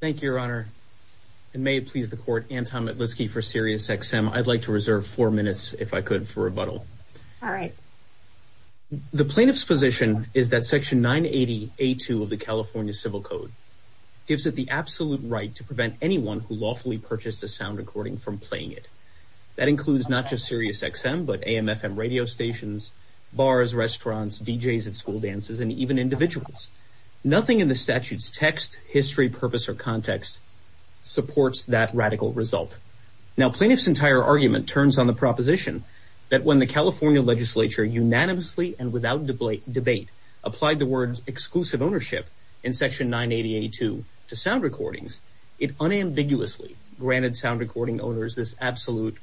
Thank you, Your Honor. And may it please the Court, Anton Metlisky for Sirius XM. I'd like to reserve four minutes, if I could, for rebuttal. All right. The plaintiff's position is that Section 980A2 of the California Civil Code gives it the absolute right to prevent anyone who lawfully purchased a sound recording from playing it. That includes not just Sirius XM, but AM, FM radio stations, bars, restaurants, DJs at school dances, and even individuals. Nothing in the statute's text, history, purpose, or context supports that radical result. Now, plaintiff's entire argument turns on the proposition that when the California legislature unanimously and without debate applied the words exclusive ownership in Section 980A2 to sound recordings, it unambiguously granted sound recording owners this absolute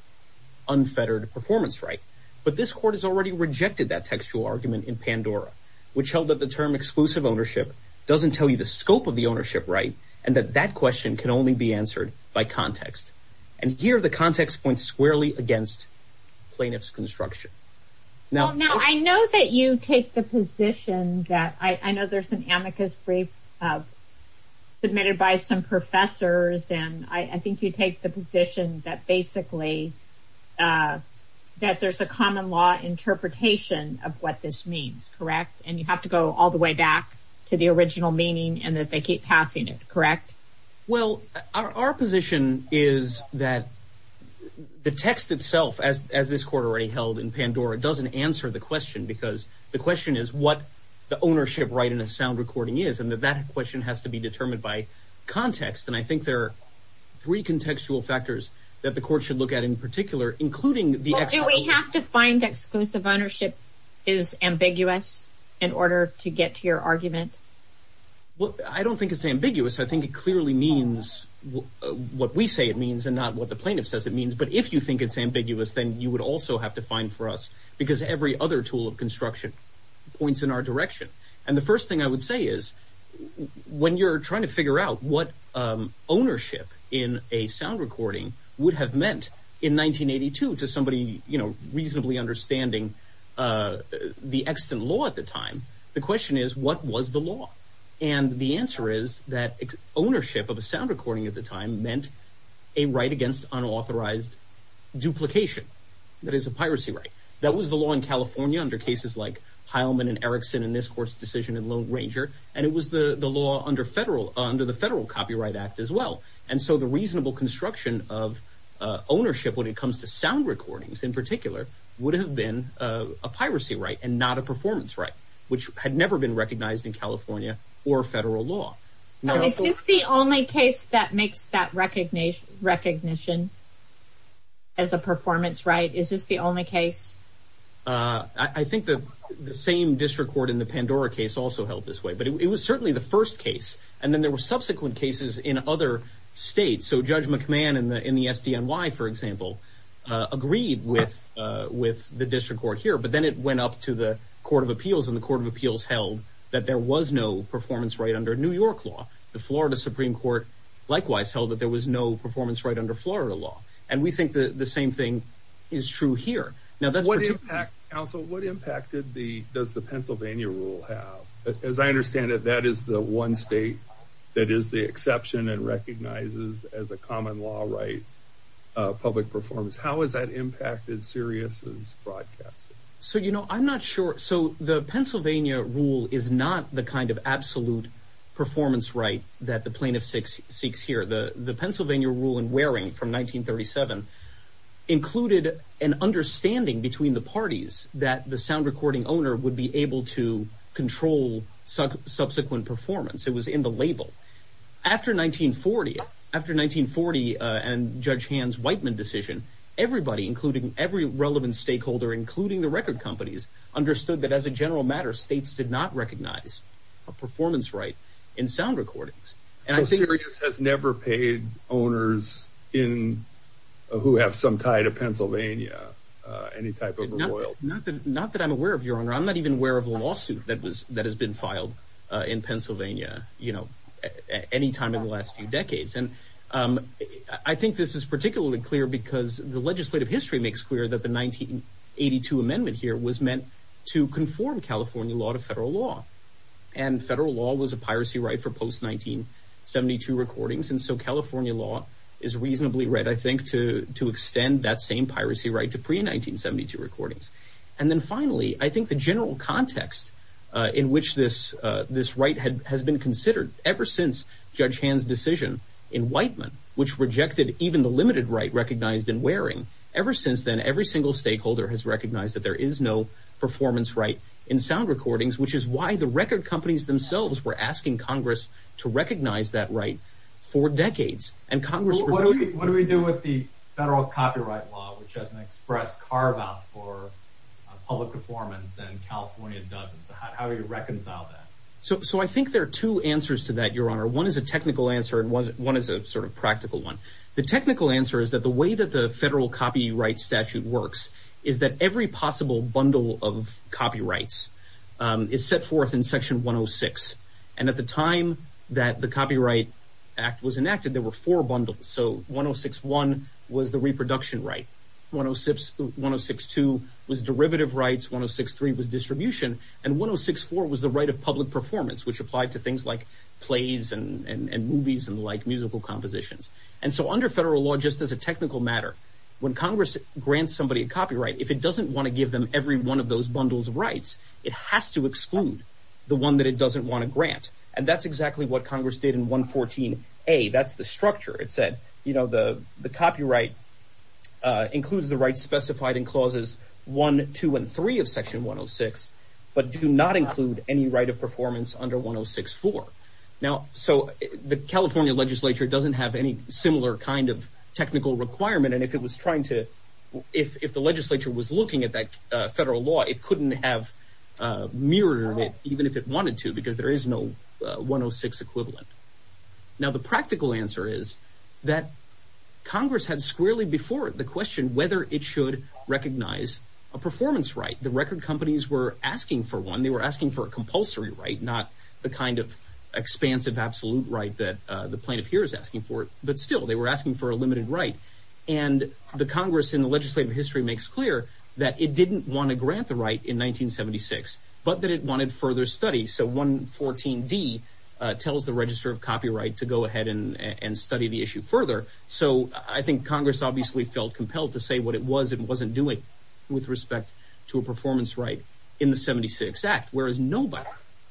unfettered performance right. But this Court has already rejected that textual argument in Pandora, which held that the term exclusive ownership doesn't tell you the scope of the ownership right, and that that question can only be answered by context. And here, the context points squarely against plaintiff's construction. Now, I know that you take the position that I know there's an amicus brief submitted by some professors, and I think you take the position that basically that there's a common law interpretation of what this means, correct? And you have to go all the way back to the original meaning and that they keep passing it, correct? Well, our position is that the text itself, as this Court already held in Pandora, doesn't answer the question because the question is what the ownership right in a sound recording is, and that that question has to be determined by context. And I think there are three contextual factors that the Court should look at in particular, including the exclusivity. Do we have to find exclusive ownership is ambiguous in order to get to your argument? Well, I don't think it's ambiguous. I think it clearly means what we say it means and not what the plaintiff says it means. But if you think it's ambiguous, then you would also have to find for us because every other tool of construction points in our direction. And the first thing I would say is, when you're trying to figure out what ownership in a sound recording would have meant in 1982 to somebody, you know, reasonably understanding the extant law at the time, the question is what was the law? And the answer is that ownership of a sound recording at the time meant a right against unauthorized duplication. That is a piracy right. That was the law in California under cases like Heilman and Erickson in this Court's decision in Lone Ranger. And it was the law under the Federal Copyright Act as well. And so the reasonable construction of ownership when it comes to sound recordings in particular would have been a piracy right and not a performance right, which had never been recognized in California or federal law. Now, is this the only case that makes that recognition as a performance right? Is this the only case? I think the same district court in the Pandora case also held this way. But it was certainly the first case. And then there were subsequent cases in other states. So Judge McMahon in the SDNY, for example, agreed with the district court here. But then it went up to the Court of Appeals, and the Court of Appeals held that there was no performance right under New York law. The Florida Supreme Court likewise held that there was no performance right under Florida law. And we think the same thing is true here. Now, that's what you... Counsel, what impact does the Pennsylvania rule have? As I understand it, that is the one state that is the exception and recognizes as a common law right public performance. How has that impacted Sirius's broadcasting? So, you know, I'm not sure. So the Pennsylvania rule is not the kind of absolute performance right that the plaintiff seeks here. The Pennsylvania rule in Waring from 1937 included an understanding between the parties that the sound recording owner would be able to control subsequent performance. It was in the label. After 1940, after 1940 and Judge Hans Whiteman's decision, everybody, including every relevant stakeholder, including the record companies, understood that as a general matter, states did not recognize a performance right in sound recordings. So Sirius has never paid owners who have some tie to Pennsylvania, any type of royalty? Not that I'm aware of, Your Honor. I'm not even aware of a lawsuit that has been filed in Pennsylvania, you know, any time in the last few decades. And I think this is particularly clear because the legislative history makes clear that the 1982 amendment here was meant to conform California law to federal law. And federal law was a piracy right for post-1972 recordings. And so California law is reasonably right, I think, to extend that same piracy right to pre-1972 recordings. And then finally, I think the general context in which this right has been considered ever since Judge Hans' decision in Whiteman, which rejected even the limited right recognized in Waring, ever since then, every single stakeholder has recognized that there is no performance right in sound recordings, which is why the record companies themselves were asking Congress to recognize that right for decades. And Congress was... What do we do with the federal copyright law, which has an express carve-out for public performance and California doesn't? So how do you reconcile that? So I think there are two answers to that, Your Honor. One is a technical answer and one is a sort of practical one. The technical answer is that the way that the federal copyright statute works is that every possible bundle of copyrights is set forth in Section 106. And at the time that the Copyright Act was enacted, there were four bundles. So 106.1 was the reproduction right. 106.2 was derivative rights. 106.3 was distribution. And 106.4 was the right of public performance, which applied to things like plays and movies and like musical compositions. And so under federal law, just as a technical matter, when Congress grants somebody a copyright, if it doesn't want to give them every one of those bundles of rights, it has to exclude the one that it doesn't want to grant. And that's exactly what Congress did in 114.a. That's the structure. It said, you know, the copyright includes the rights specified in clauses 1, 2, and 3 of Section 106, but do not include any right of performance under 106.4. Now, so the California legislature doesn't have any similar kind of technical requirement. And if it was trying to, if the legislature was looking at that federal law, it couldn't have mirrored it even if it wanted to because there is no 106 equivalent. Now, the practical answer is that Congress had squarely before the question whether it should recognize a performance right. The record companies were asking for one. They were asking for a compulsory right, not the kind of expansive absolute right that the plaintiff here is asking for. But still, they were asking for a limited right. And the Congress in the legislative history makes clear that it didn't want to grant the right in 1976, but that it wanted further study. So 114D tells the Register of Copyright to go ahead and study the issue further. So I think Congress obviously felt compelled to say what it was it wasn't doing with respect to a performance right in the 76 Act, whereas nobody,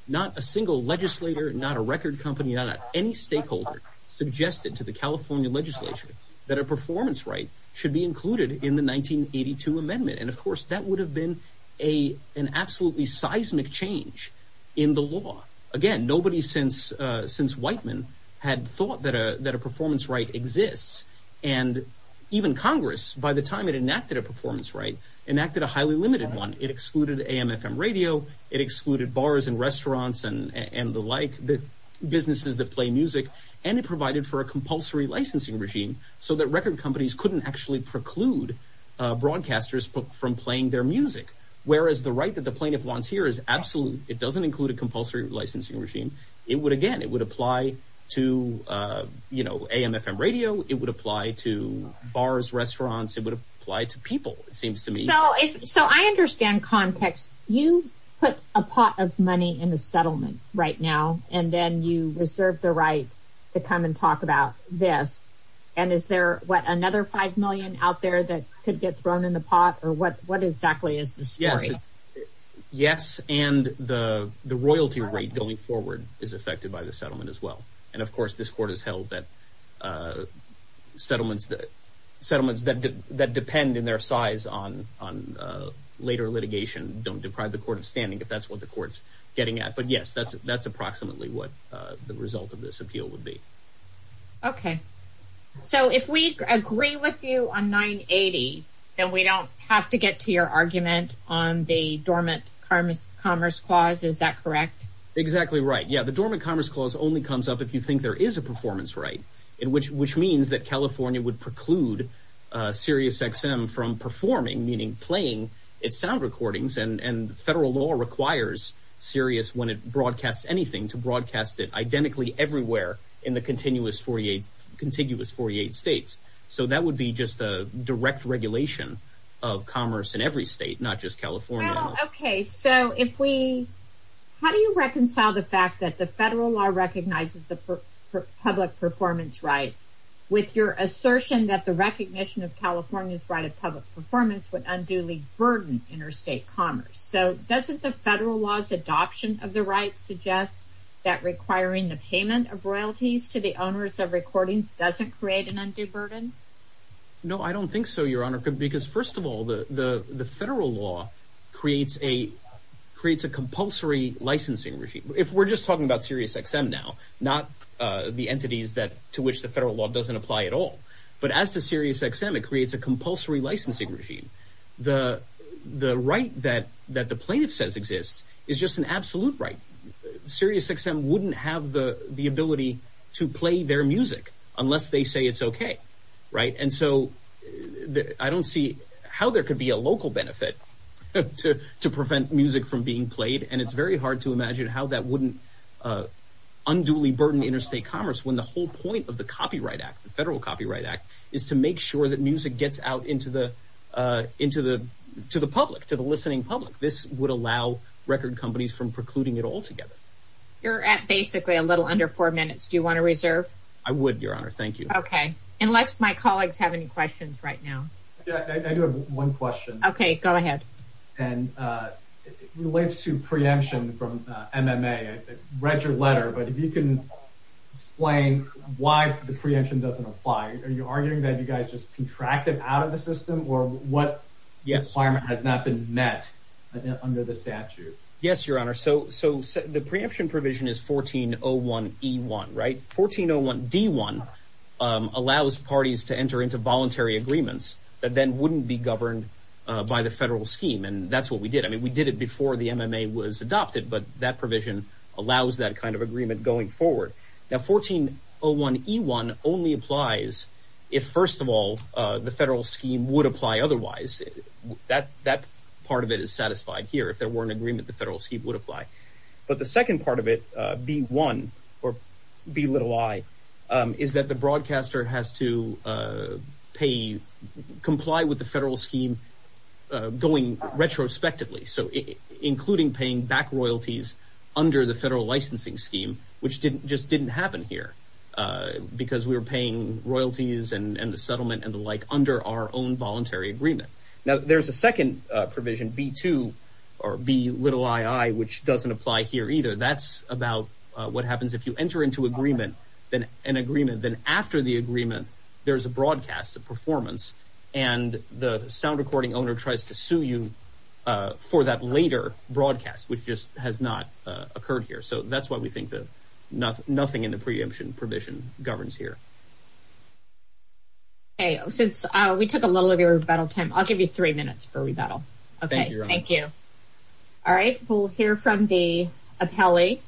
not a single legislator, not a record company, not any stakeholder suggested to the California legislature that a performance right should be included in the 1982 amendment. And of course, that would have been an absolutely seismic change in the law. Again, nobody since Whiteman had thought that a performance right exists. And even Congress, by the time it enacted a performance right, enacted a highly limited one. It excluded AM, FM radio. It excluded bars and restaurants and the like, businesses that play music. And it provided for a compulsory licensing regime so that record companies couldn't actually preclude broadcasters from playing their music. Whereas the right that the plaintiff wants here is absolute. It doesn't include a compulsory licensing regime. It would, again, it would apply to AM, FM radio. It would apply to bars, restaurants. It would apply to people, it seems to me. So I understand context. You put a pot of money in the settlement right now, and then you reserve the right to come and talk about this. And is there, what, another five million out there that could get thrown in the pot? Or what exactly is the story? Yes. Yes, and the royalty rate going forward is affected by the settlement as well. And of course, this court has held that settlements that depend in their size on later litigation don't deprive the court of standing if that's what the court's getting at. But yes, that's approximately what the result of this appeal would be. OK. So if we agree with you on 980, then we don't have to get to your argument on the Dormant Commerce Clause. Is that correct? Exactly right. Yeah, the Dormant Commerce Clause only comes up if you think there is a performance right, which means that California would preclude SiriusXM from performing, meaning playing, its sound recordings. And federal law requires Sirius, when it broadcasts anything, to broadcast it identically everywhere in the contiguous 48 states. So that would be just a direct regulation of commerce in every state, not just California. OK, so how do you reconcile the fact that the federal law recognizes the public performance right with your assertion that the recognition of California's right of public performance would unduly burden interstate commerce? So doesn't the federal law's adoption of the right suggest that requiring the payment of royalties to the owners of recordings doesn't create an undue burden? No, I don't think so, Your Honor, because first of all, the federal law creates a compulsory licensing regime. If we're just talking about SiriusXM now, not the entities to which the federal law doesn't apply at all, but as to SiriusXM, it creates a compulsory licensing regime. The right that the plaintiff says exists is just an absolute right. SiriusXM wouldn't have the ability to play their music unless they say it's OK, right? And so I don't see how there could be a local benefit to prevent music from being played. And it's very hard to imagine how that wouldn't unduly burden interstate commerce when the whole point of the Copyright Act, the Federal Copyright Act, is to make sure that music gets out to the public, to the listening public. This would allow record companies from precluding it altogether. You're at basically a little under four minutes. Do you want to reserve? I would, Your Honor. Thank you. OK. Unless my colleagues have any questions right now. Yeah, I do have one question. OK, go ahead. And it relates to preemption from MMA. I read your letter. But if you can explain why the preemption doesn't apply. Are you arguing that you guys just contracted out of the system? Or what requirement has not been met under the statute? Yes, Your Honor. So the preemption provision is 1401E1, right? 1401D1 allows parties to enter into voluntary agreements that then wouldn't be governed by the federal scheme. And that's what we did. I mean, we did it before the MMA was adopted. But that provision allows that kind of agreement going forward. Now, 1401E1 only applies if, first of all, the federal scheme would apply otherwise. That part of it is satisfied here. If there were an agreement, the federal scheme would apply. But the second part of it, B1, or B little i, is that the broadcaster has to pay, comply with the federal scheme going retrospectively. So including paying back royalties under the federal licensing scheme, which just didn't happen here because we were paying royalties and the settlement and the like under our own voluntary agreement. Now, there's a second provision, B2, or B little ii, which doesn't apply here either. That's about what happens if you enter into an agreement. Then after the agreement, there's a broadcast, a performance. And the sound recording owner tries to sue you for that later broadcast, which just has not occurred here. So that's why we think that nothing in the preemption provision governs here. OK. Since we took a little of your rebuttal time, I'll give you three minutes for rebuttal. OK. Thank you. All right. We'll hear from the appellee.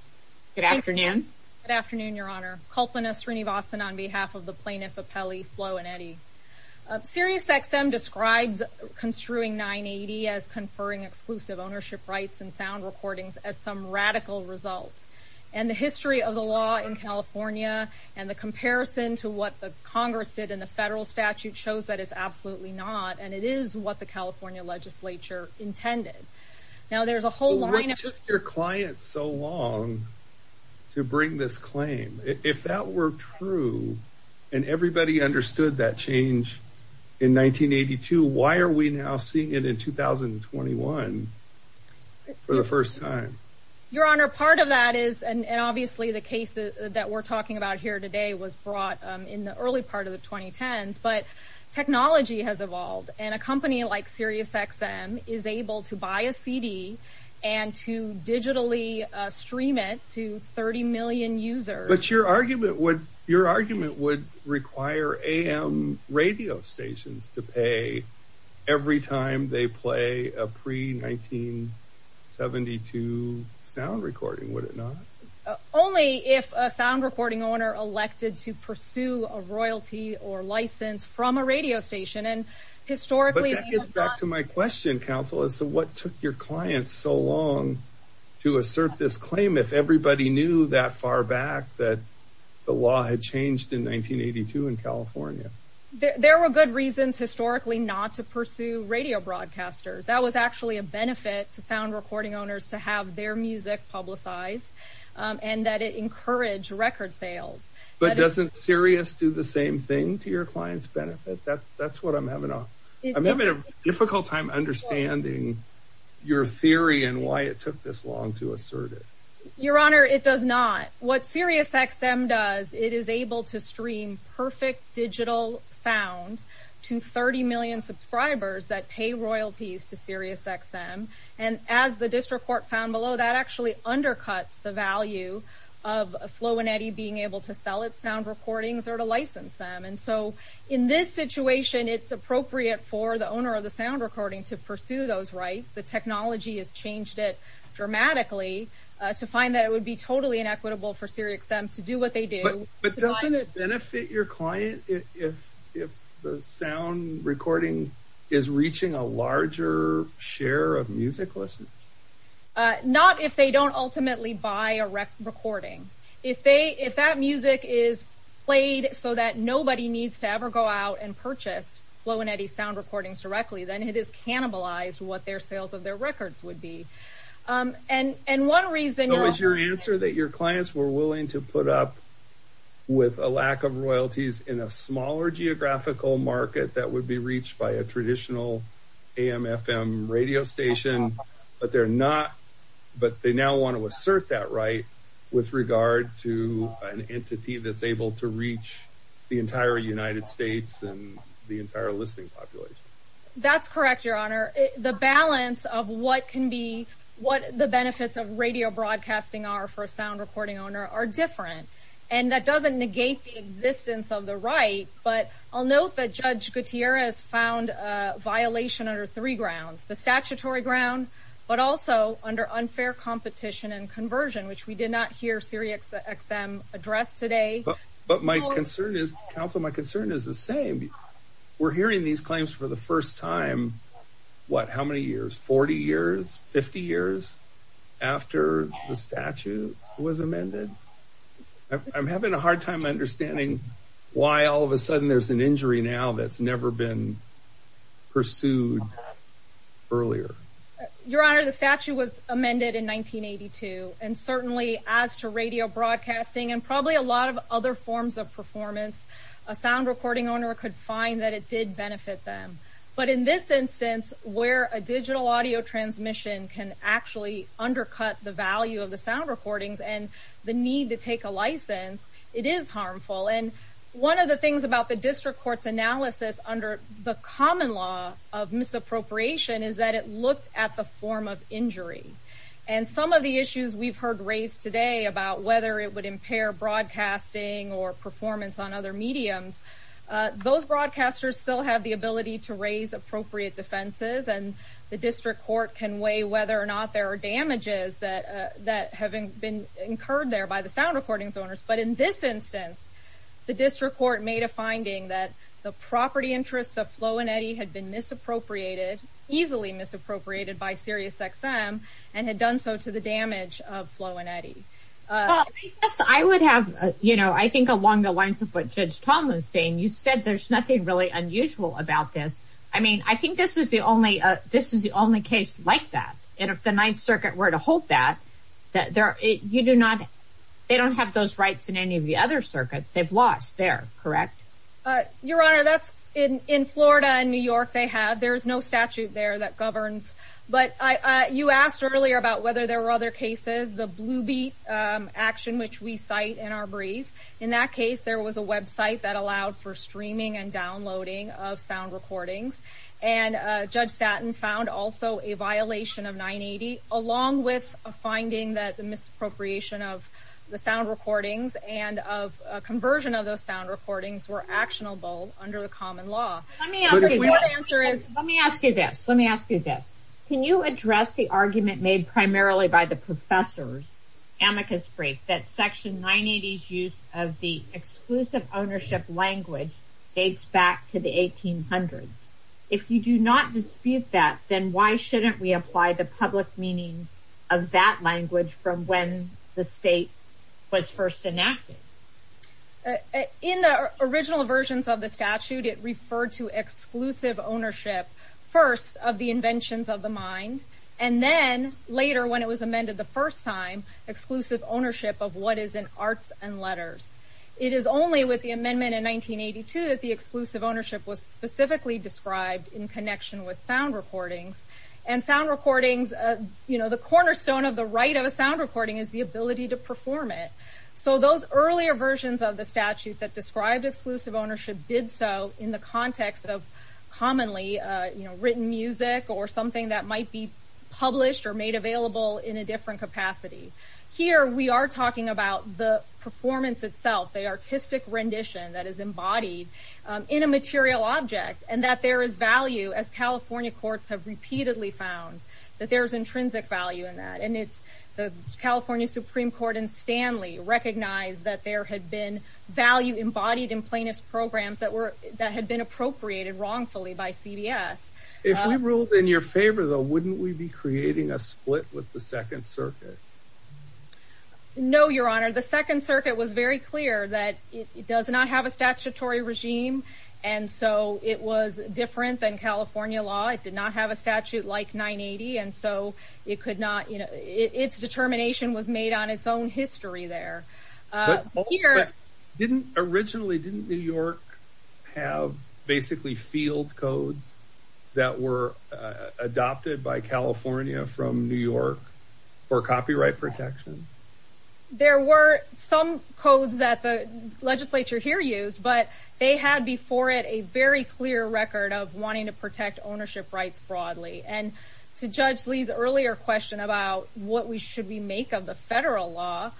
Good afternoon. Good afternoon, Your Honor. Kulpana Srinivasan on behalf of the plaintiff appellee, Flo and Eddie. Sirius XM describes construing 980 as conferring exclusive ownership rights and sound recordings as some radical result. And the history of the law in California and the comparison to what the Congress did in the federal statute shows that it's absolutely not. And it is what the California legislature intended. Now, there's a whole line of- What took your client so long to bring this claim? If that were true and everybody understood that change in 1982, why are we now seeing it in 2021 for the first time? Your Honor, part of that is, and obviously the case that we're talking about here today was brought in the early part of the 2010s, but technology has evolved. And a company like Sirius XM is able to buy a CD and to digitally stream it to 30 million users. But your argument would require AM radio stations to pay every time they play a pre-1972 sound recording, would it not? Only if a sound recording owner elected to pursue a royalty or license from a radio station. And historically- But that gets back to my question, Counselor. So what took your client so long to assert this claim if everybody knew that far back that the law had changed in 1982 in California? There were good reasons historically not to pursue radio broadcasters. That was actually a benefit to sound recording owners to have their music publicized and that it encouraged record sales. But doesn't Sirius do the same thing to your client's benefit? That's what I'm having a difficult time understanding your theory and why it took this long to assert it. Your Honor, it does not. What Sirius XM does, it is able to stream perfect digital sound to 30 million subscribers that pay royalties to Sirius XM. And as the district court found below, that actually undercuts the value of Flo and Eddie being able to sell its sound recordings or to license them. And so in this situation, it's appropriate for the owner of the sound recording to pursue those rights. The technology has changed it dramatically to find that it would be totally inequitable for Sirius XM to do what they do. But doesn't it benefit your client if the sound recording is reaching a larger share of music listeners? Not if they don't ultimately buy a recording. If that music is played so that nobody needs to ever go out and purchase Flo and Eddie's sound recordings directly, then it is cannibalized what their sales of their records would be. And one reason- So is your answer that your clients were willing to put up with a lack of royalties in a smaller geographical market that would be reached by a traditional AM-FM radio station, but they now want to assert that right with regard to an entity that's able to reach the entire United States and the entire listening population? That's correct, Your Honor. The balance of what can be, what the benefits of radio broadcasting are for a sound recording owner are different. And that doesn't negate the existence of the right, but I'll note that Judge Gutierrez found a violation under three grounds, the statutory ground, but also under unfair competition and conversion, which we did not hear Siri XM address today. But my concern is, counsel, my concern is the same. We're hearing these claims for the first time, what, how many years, 40 years, 50 years after the statute was amended? I'm having a hard time understanding why all of a sudden there's an injury now that's never been pursued earlier. Your Honor, the statute was amended in 1982. And certainly as to radio broadcasting and probably a lot of other forms of performance, a sound recording owner could find that it did benefit them. But in this instance, where a digital audio transmission can actually undercut the value of the sound recordings and the need to take a license, it is harmful. And one of the things about the district court's analysis under the common law of misappropriation is that it looked at the form of injury. And some of the issues we've heard raised today about whether it would impair broadcasting or performance on other mediums, those broadcasters still have the ability to raise appropriate defenses, and the district court can weigh whether or not there are damages that have been incurred there by the sound recordings owners. But in this instance, the district court made a finding that the property interests of Flo and Eddie had been misappropriated, easily misappropriated by SiriusXM, and had done so to the damage of Flo and Eddie. I would have, you know, I think along the lines of what Judge Tom was saying, you said there's nothing really unusual about this. I mean, I think this is the only case like that. And if the Ninth Circuit were to hold that, that there are, you do not, they don't have those rights in any of the other circuits. They've lost there, correct? Your Honor, that's in Florida and New York they have. There's no statute there that governs. But you asked earlier about whether there were other cases, the Blue Beat action, which we cite in our brief. In that case, there was a website that allowed for streaming and downloading of sound recordings. And Judge Satin found also a violation of 980, along with a finding that the misappropriation of the sound recordings and of a conversion of those sound recordings were actionable under the common law. Let me ask you this, let me ask you this. Can you address the argument made primarily by the professor's amicus brief that Section 980's use of the exclusive ownership language dates back to the 1800s? If you do not dispute that, then why shouldn't we apply the public meaning of that language from when the state was first enacted? In the original versions of the statute, it referred to exclusive ownership, first of the inventions of the mind, and then later when it was amended the first time, exclusive ownership of what is in arts and letters. It is only with the amendment in 1982 that the exclusive ownership was specifically described in connection with sound recordings. And sound recordings, you know, the cornerstone of the right of a sound recording is the ability to perform it. So those earlier versions of the statute that described exclusive ownership did so in the context of commonly written music or something that might be published or made available in a different capacity. Here we are talking about the performance itself, the artistic rendition that is embodied in a material object and that there is value as California courts have repeatedly found that there's intrinsic value in that. And it's the California Supreme Court in Stanley recognized that there had been value embodied in plaintiff's programs that were, that had been appropriated wrongfully by CBS. If we ruled in your favor though, wouldn't we be creating a split with the Second Circuit? No, Your Honor, the Second Circuit was very clear that it does not have a statutory regime. And so it was different than California law. It did not have a statute like 980. And so it could not, you know, its determination was made on its own history there. But didn't originally, didn't New York have basically field codes that were adopted by California from New York for copyright protection? There were some codes that the legislature here used, but they had before it a very clear record of wanting to protect ownership rights broadly. And to Judge Lee's earlier question about what we should we make of the federal law,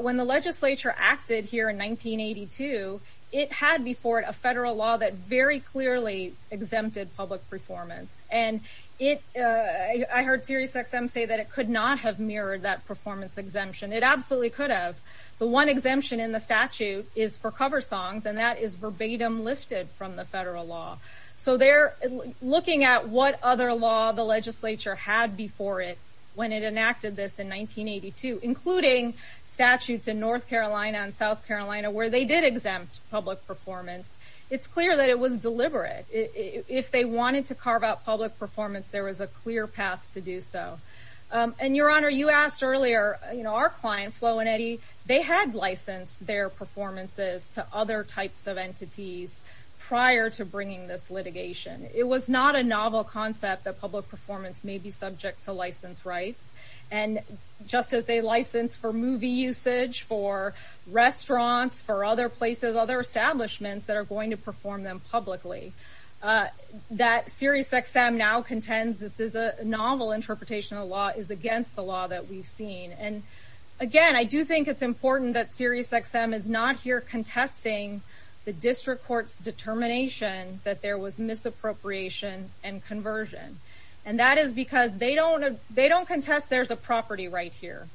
when the legislature acted here in 1982, it had before it a federal law that very clearly exempted public performance. And it, I heard Sirius XM say that it could not have mirrored that performance exemption. It absolutely could have. The one exemption in the statute is for cover songs, and that is verbatim lifted from the federal law. So they're looking at what other law the legislature had before it when it enacted this in 1982, including statutes in North Carolina and South Carolina where they did exempt public performance. It's clear that it was deliberate. If they wanted to carve out public performance, there was a clear path to do so. And, Your Honor, you asked earlier, you know, our client, Flo and Eddie, they had licensed their performances to other types of entities prior to bringing this litigation. It was not a novel concept that public performance may be subject to license rights. And just as they license for movie usage, for restaurants, for other places, other establishments that are going to perform them publicly, that SiriusXM now contends this is a novel interpretation of the law is against the law that we've seen. And, again, I do think it's important that SiriusXM is not here contesting the district court's determination that there was misappropriation and conversion. And that is because they don't contest there's a property right here.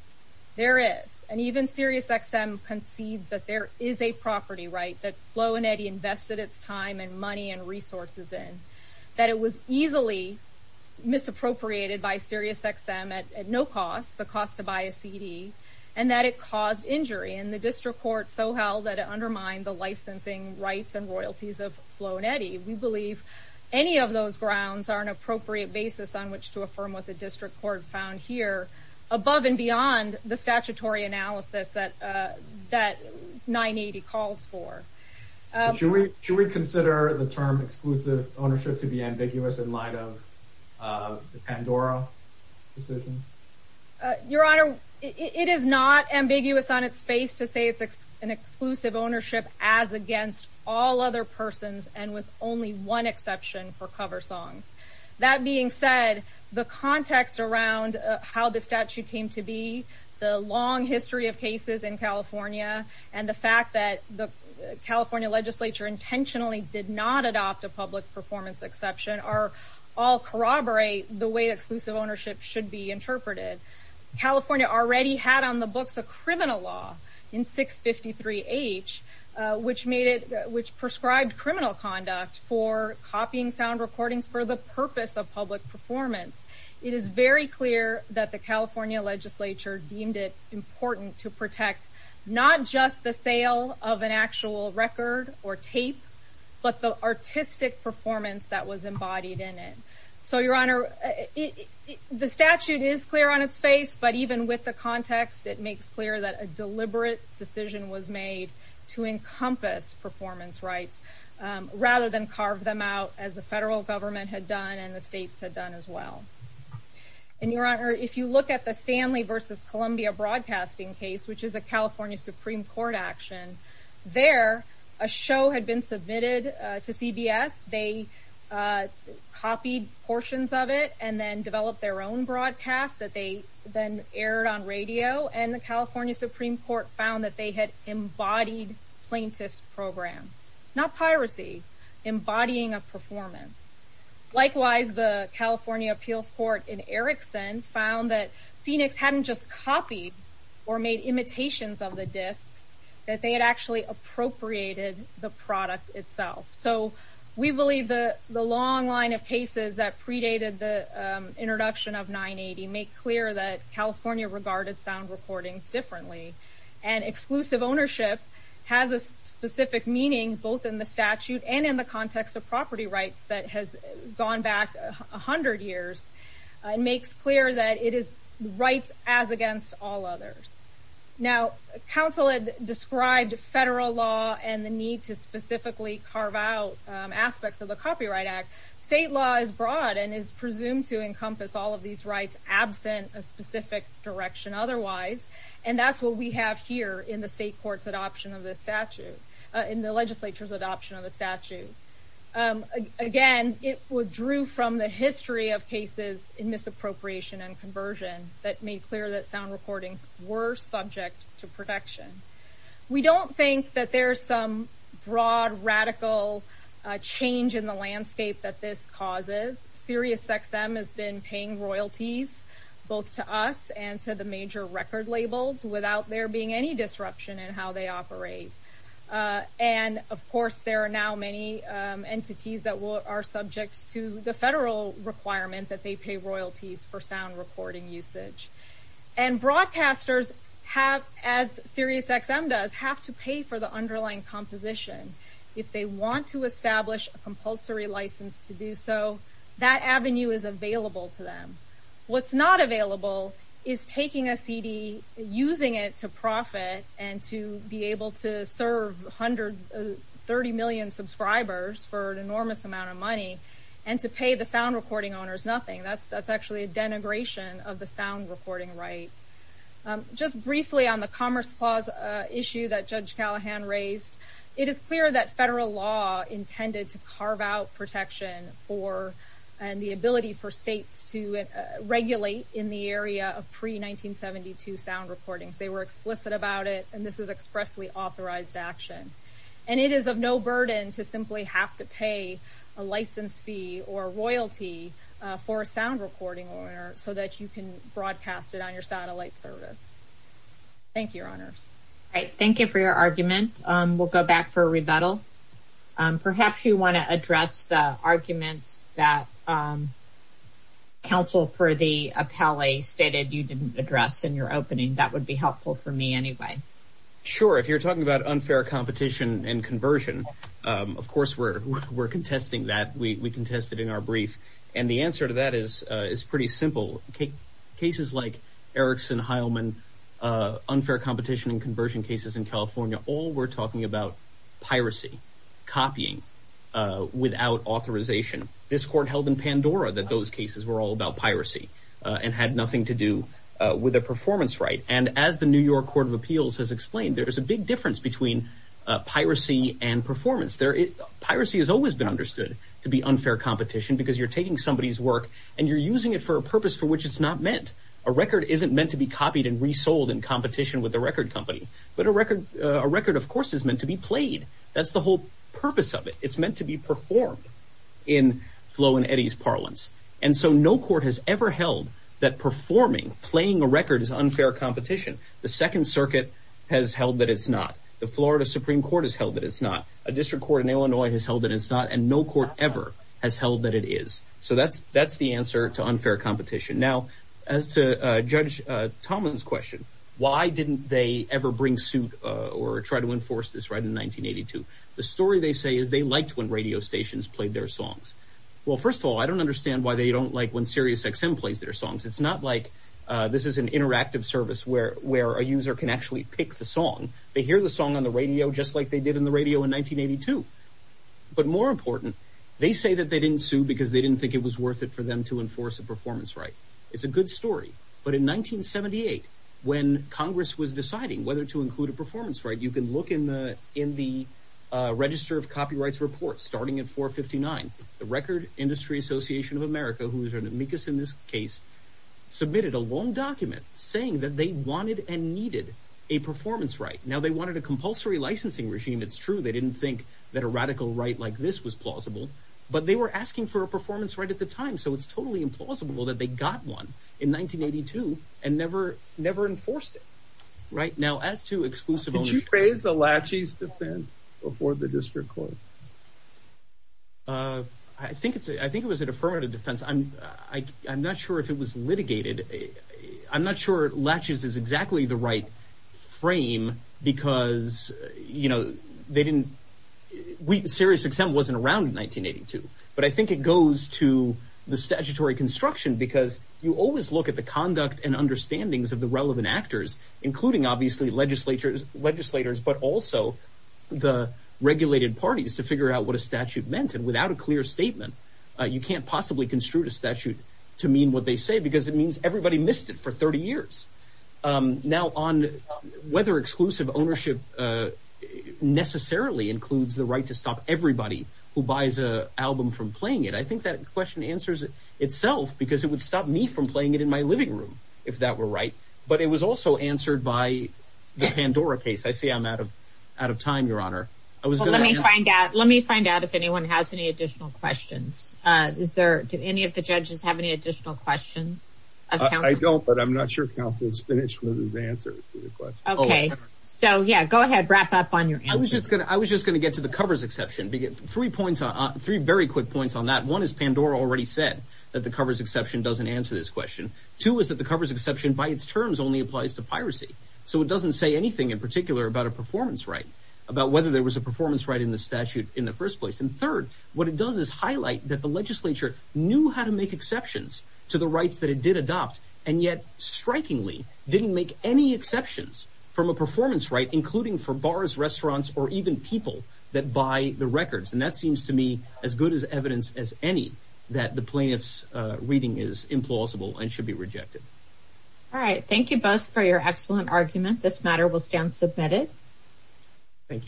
There is. And even SiriusXM concedes that there is a property right, that Flo and Eddie invested its time and money and resources in, that it was easily misappropriated by SiriusXM at no cost, the cost to buy a CD, and that it caused injury. And the district court so held that it undermined the licensing rights and royalties of Flo and Eddie. We believe any of those grounds are an appropriate basis on which to affirm what the district court found here above and beyond the statutory analysis that 980 calls for. Should we consider the term exclusive ownership to be ambiguous in light of the Pandora decision? Your Honor, it is not ambiguous on its face to say it's an exclusive ownership as against all other persons and with only one exception for cover songs. That being said, the context around how the statute came to be, the long history of cases in California, and the fact that the California legislature intentionally did not adopt a public performance exception all corroborate the way exclusive ownership should be interpreted. California already had on the books a criminal law in 653H which prescribed criminal conduct for copying sound recordings for the purpose of public performance. It is very clear that the California legislature deemed it important to protect not just the sale of an actual record or tape, but the artistic performance that was embodied in it. So, Your Honor, the statute is clear on its face, but even with the context, it makes clear that a deliberate decision was made to encompass performance rights rather than carve them out as the federal government had done and the states had done as well. And, Your Honor, if you look at the Stanley versus Columbia broadcasting case, which is a California Supreme Court action, there, a show had been submitted to CBS. They copied portions of it and then developed their own broadcast that they then aired on radio, and the California Supreme Court found that they had embodied plaintiff's program, not piracy, embodying a performance. Likewise, the California Appeals Court in Erickson found that Phoenix hadn't just copied or made imitations of the discs, that they had actually appropriated the product itself. So, we believe the long line of cases that predated the introduction of 980 make clear that California regarded sound recordings differently. And exclusive ownership has a specific meaning, both in the statute and in the context of property rights that has gone back 100 years. It makes clear that it is rights as against all others. Now, counsel had described federal law and the need to specifically carve out aspects of the Copyright Act. State law is broad and is presumed to encompass all of these rights absent a specific direction otherwise, and that's what we have here in the state court's adoption of this statute, in the legislature's adoption of the statute. Again, it withdrew from the history of cases in misappropriation and conversion that made clear that sound recordings were subject to protection. We don't think that there's some broad, radical change in the landscape that this causes. SiriusXM has been paying royalties, both to us and to the major record labels, without there being any disruption in how they operate. And, of course, there are now many entities that are subject to the federal requirement that they pay royalties for sound recording usage. And broadcasters have, as SiriusXM does, have to pay for the underlying composition. If they want to establish a compulsory license to do so, that avenue is available to them. What's not available is taking a CD, using it to profit, and to be able to serve 30 million subscribers for an enormous amount of money, and to pay the sound recording owners nothing. That's actually a denigration of the sound recording right. Just briefly on the Commerce Clause issue that Judge Callahan raised, it is clear that federal law intended to carve out protection and the ability for states to regulate in the area of pre-1972 sound recordings. They were explicit about it, and this is expressly authorized action. And it is of no burden to simply have to pay a license fee or royalty for a sound recording owner so that you can broadcast it on your satellite service. Thank you, Your Honors. Thank you for your argument. We'll go back for a rebuttal. Perhaps you want to address the arguments that counsel for the appellee stated you didn't address in your opening. That would be helpful for me anyway. Sure. If you're talking about unfair competition and conversion, of course, we're contesting that. We contested in our brief. And the answer to that is pretty simple. Cases like Erickson-Heilman, unfair competition and conversion cases in California, all were talking about piracy, copying without authorization. This court held in Pandora that those cases were all about piracy and had nothing to do with a performance right. And as the New York Court of Appeals has explained, there is a big difference between piracy and performance. Piracy has always been understood to be unfair competition because you're taking somebody's work and you're using it for a purpose for which it's not meant. A record isn't meant to be copied and resold in competition with a record company. But a record, of course, is meant to be played. That's the whole purpose of it. It's meant to be performed in Flo and Eddie's parlance. And so no court has ever held that performing, playing a record is unfair competition. The Second Circuit has held that it's not. The Florida Supreme Court has held that it's not. A district court in Illinois has held that it's not. And no court ever has held that it is. So that's the answer to unfair competition. Now, as to Judge Tomlin's question, why didn't they ever bring suit or try to enforce this right in 1982? The story they say is they liked when radio stations played their songs. Well, first of all, I don't understand why they don't like when Sirius XM plays their songs. It's not like this is an interactive service where a user can actually pick the song. They hear the song on the radio just like they did on the radio in 1982. But more important, they say that they didn't sue because they didn't think it was worth it for them to enforce a performance right. It's a good story. But in 1978, when Congress was deciding whether to include a performance right, you can look in the Register of Copyrights report starting at 459. The Record Industry Association of America, who is an amicus in this case, submitted a long document saying that they wanted and needed a performance right. Now, they wanted a compulsory licensing regime. It's true they didn't think that a radical right like this was plausible. But they were asking for a performance right at the time. So it's totally implausible that they got one in 1982 and never enforced it. Now, as to exclusive ownership... Did you praise the Latches' defense before the district court? I think it was a deferred defense. I'm not sure if it was litigated. I'm not sure Latches is exactly the right frame because, you know, they didn't... Sirius XM wasn't around in 1982. But I think it goes to the statutory construction because you always look at the conduct and understandings of the relevant actors, including, obviously, legislators, but also the regulated parties, to figure out what a statute meant. And without a clear statement, you can't possibly construe a statute to mean what they say because it means everybody missed it for 30 years. Now, on whether exclusive ownership necessarily includes the right to stop everybody who buys an album from playing it, I think that question answers itself because it would stop me from playing it in my living room, if that were right. But it was also answered by the Pandora case. I see I'm out of time, Your Honor. Let me find out if anyone has any additional questions. Do any of the judges have any additional questions? I don't, but I'm not sure counsel has finished with his answer. Okay. So, yeah, go ahead. Wrap up on your answer. I was just going to get to the covers exception. Three very quick points on that. One is Pandora already said that the covers exception doesn't answer this question. Two is that the covers exception by its terms only applies to piracy. So it doesn't say anything in particular about a performance right, about whether there was a performance right in the statute in the first place. And third, what it does is highlight that the legislature knew how to make exceptions to the rights that it did adopt, and yet strikingly didn't make any exceptions from a performance right, including for bars, restaurants, or even people that buy the records. And that seems to me as good as evidence as any that the plaintiff's reading is implausible and should be rejected. All right. Thank you both for your excellent argument. This matter will stand submitted. Thank you.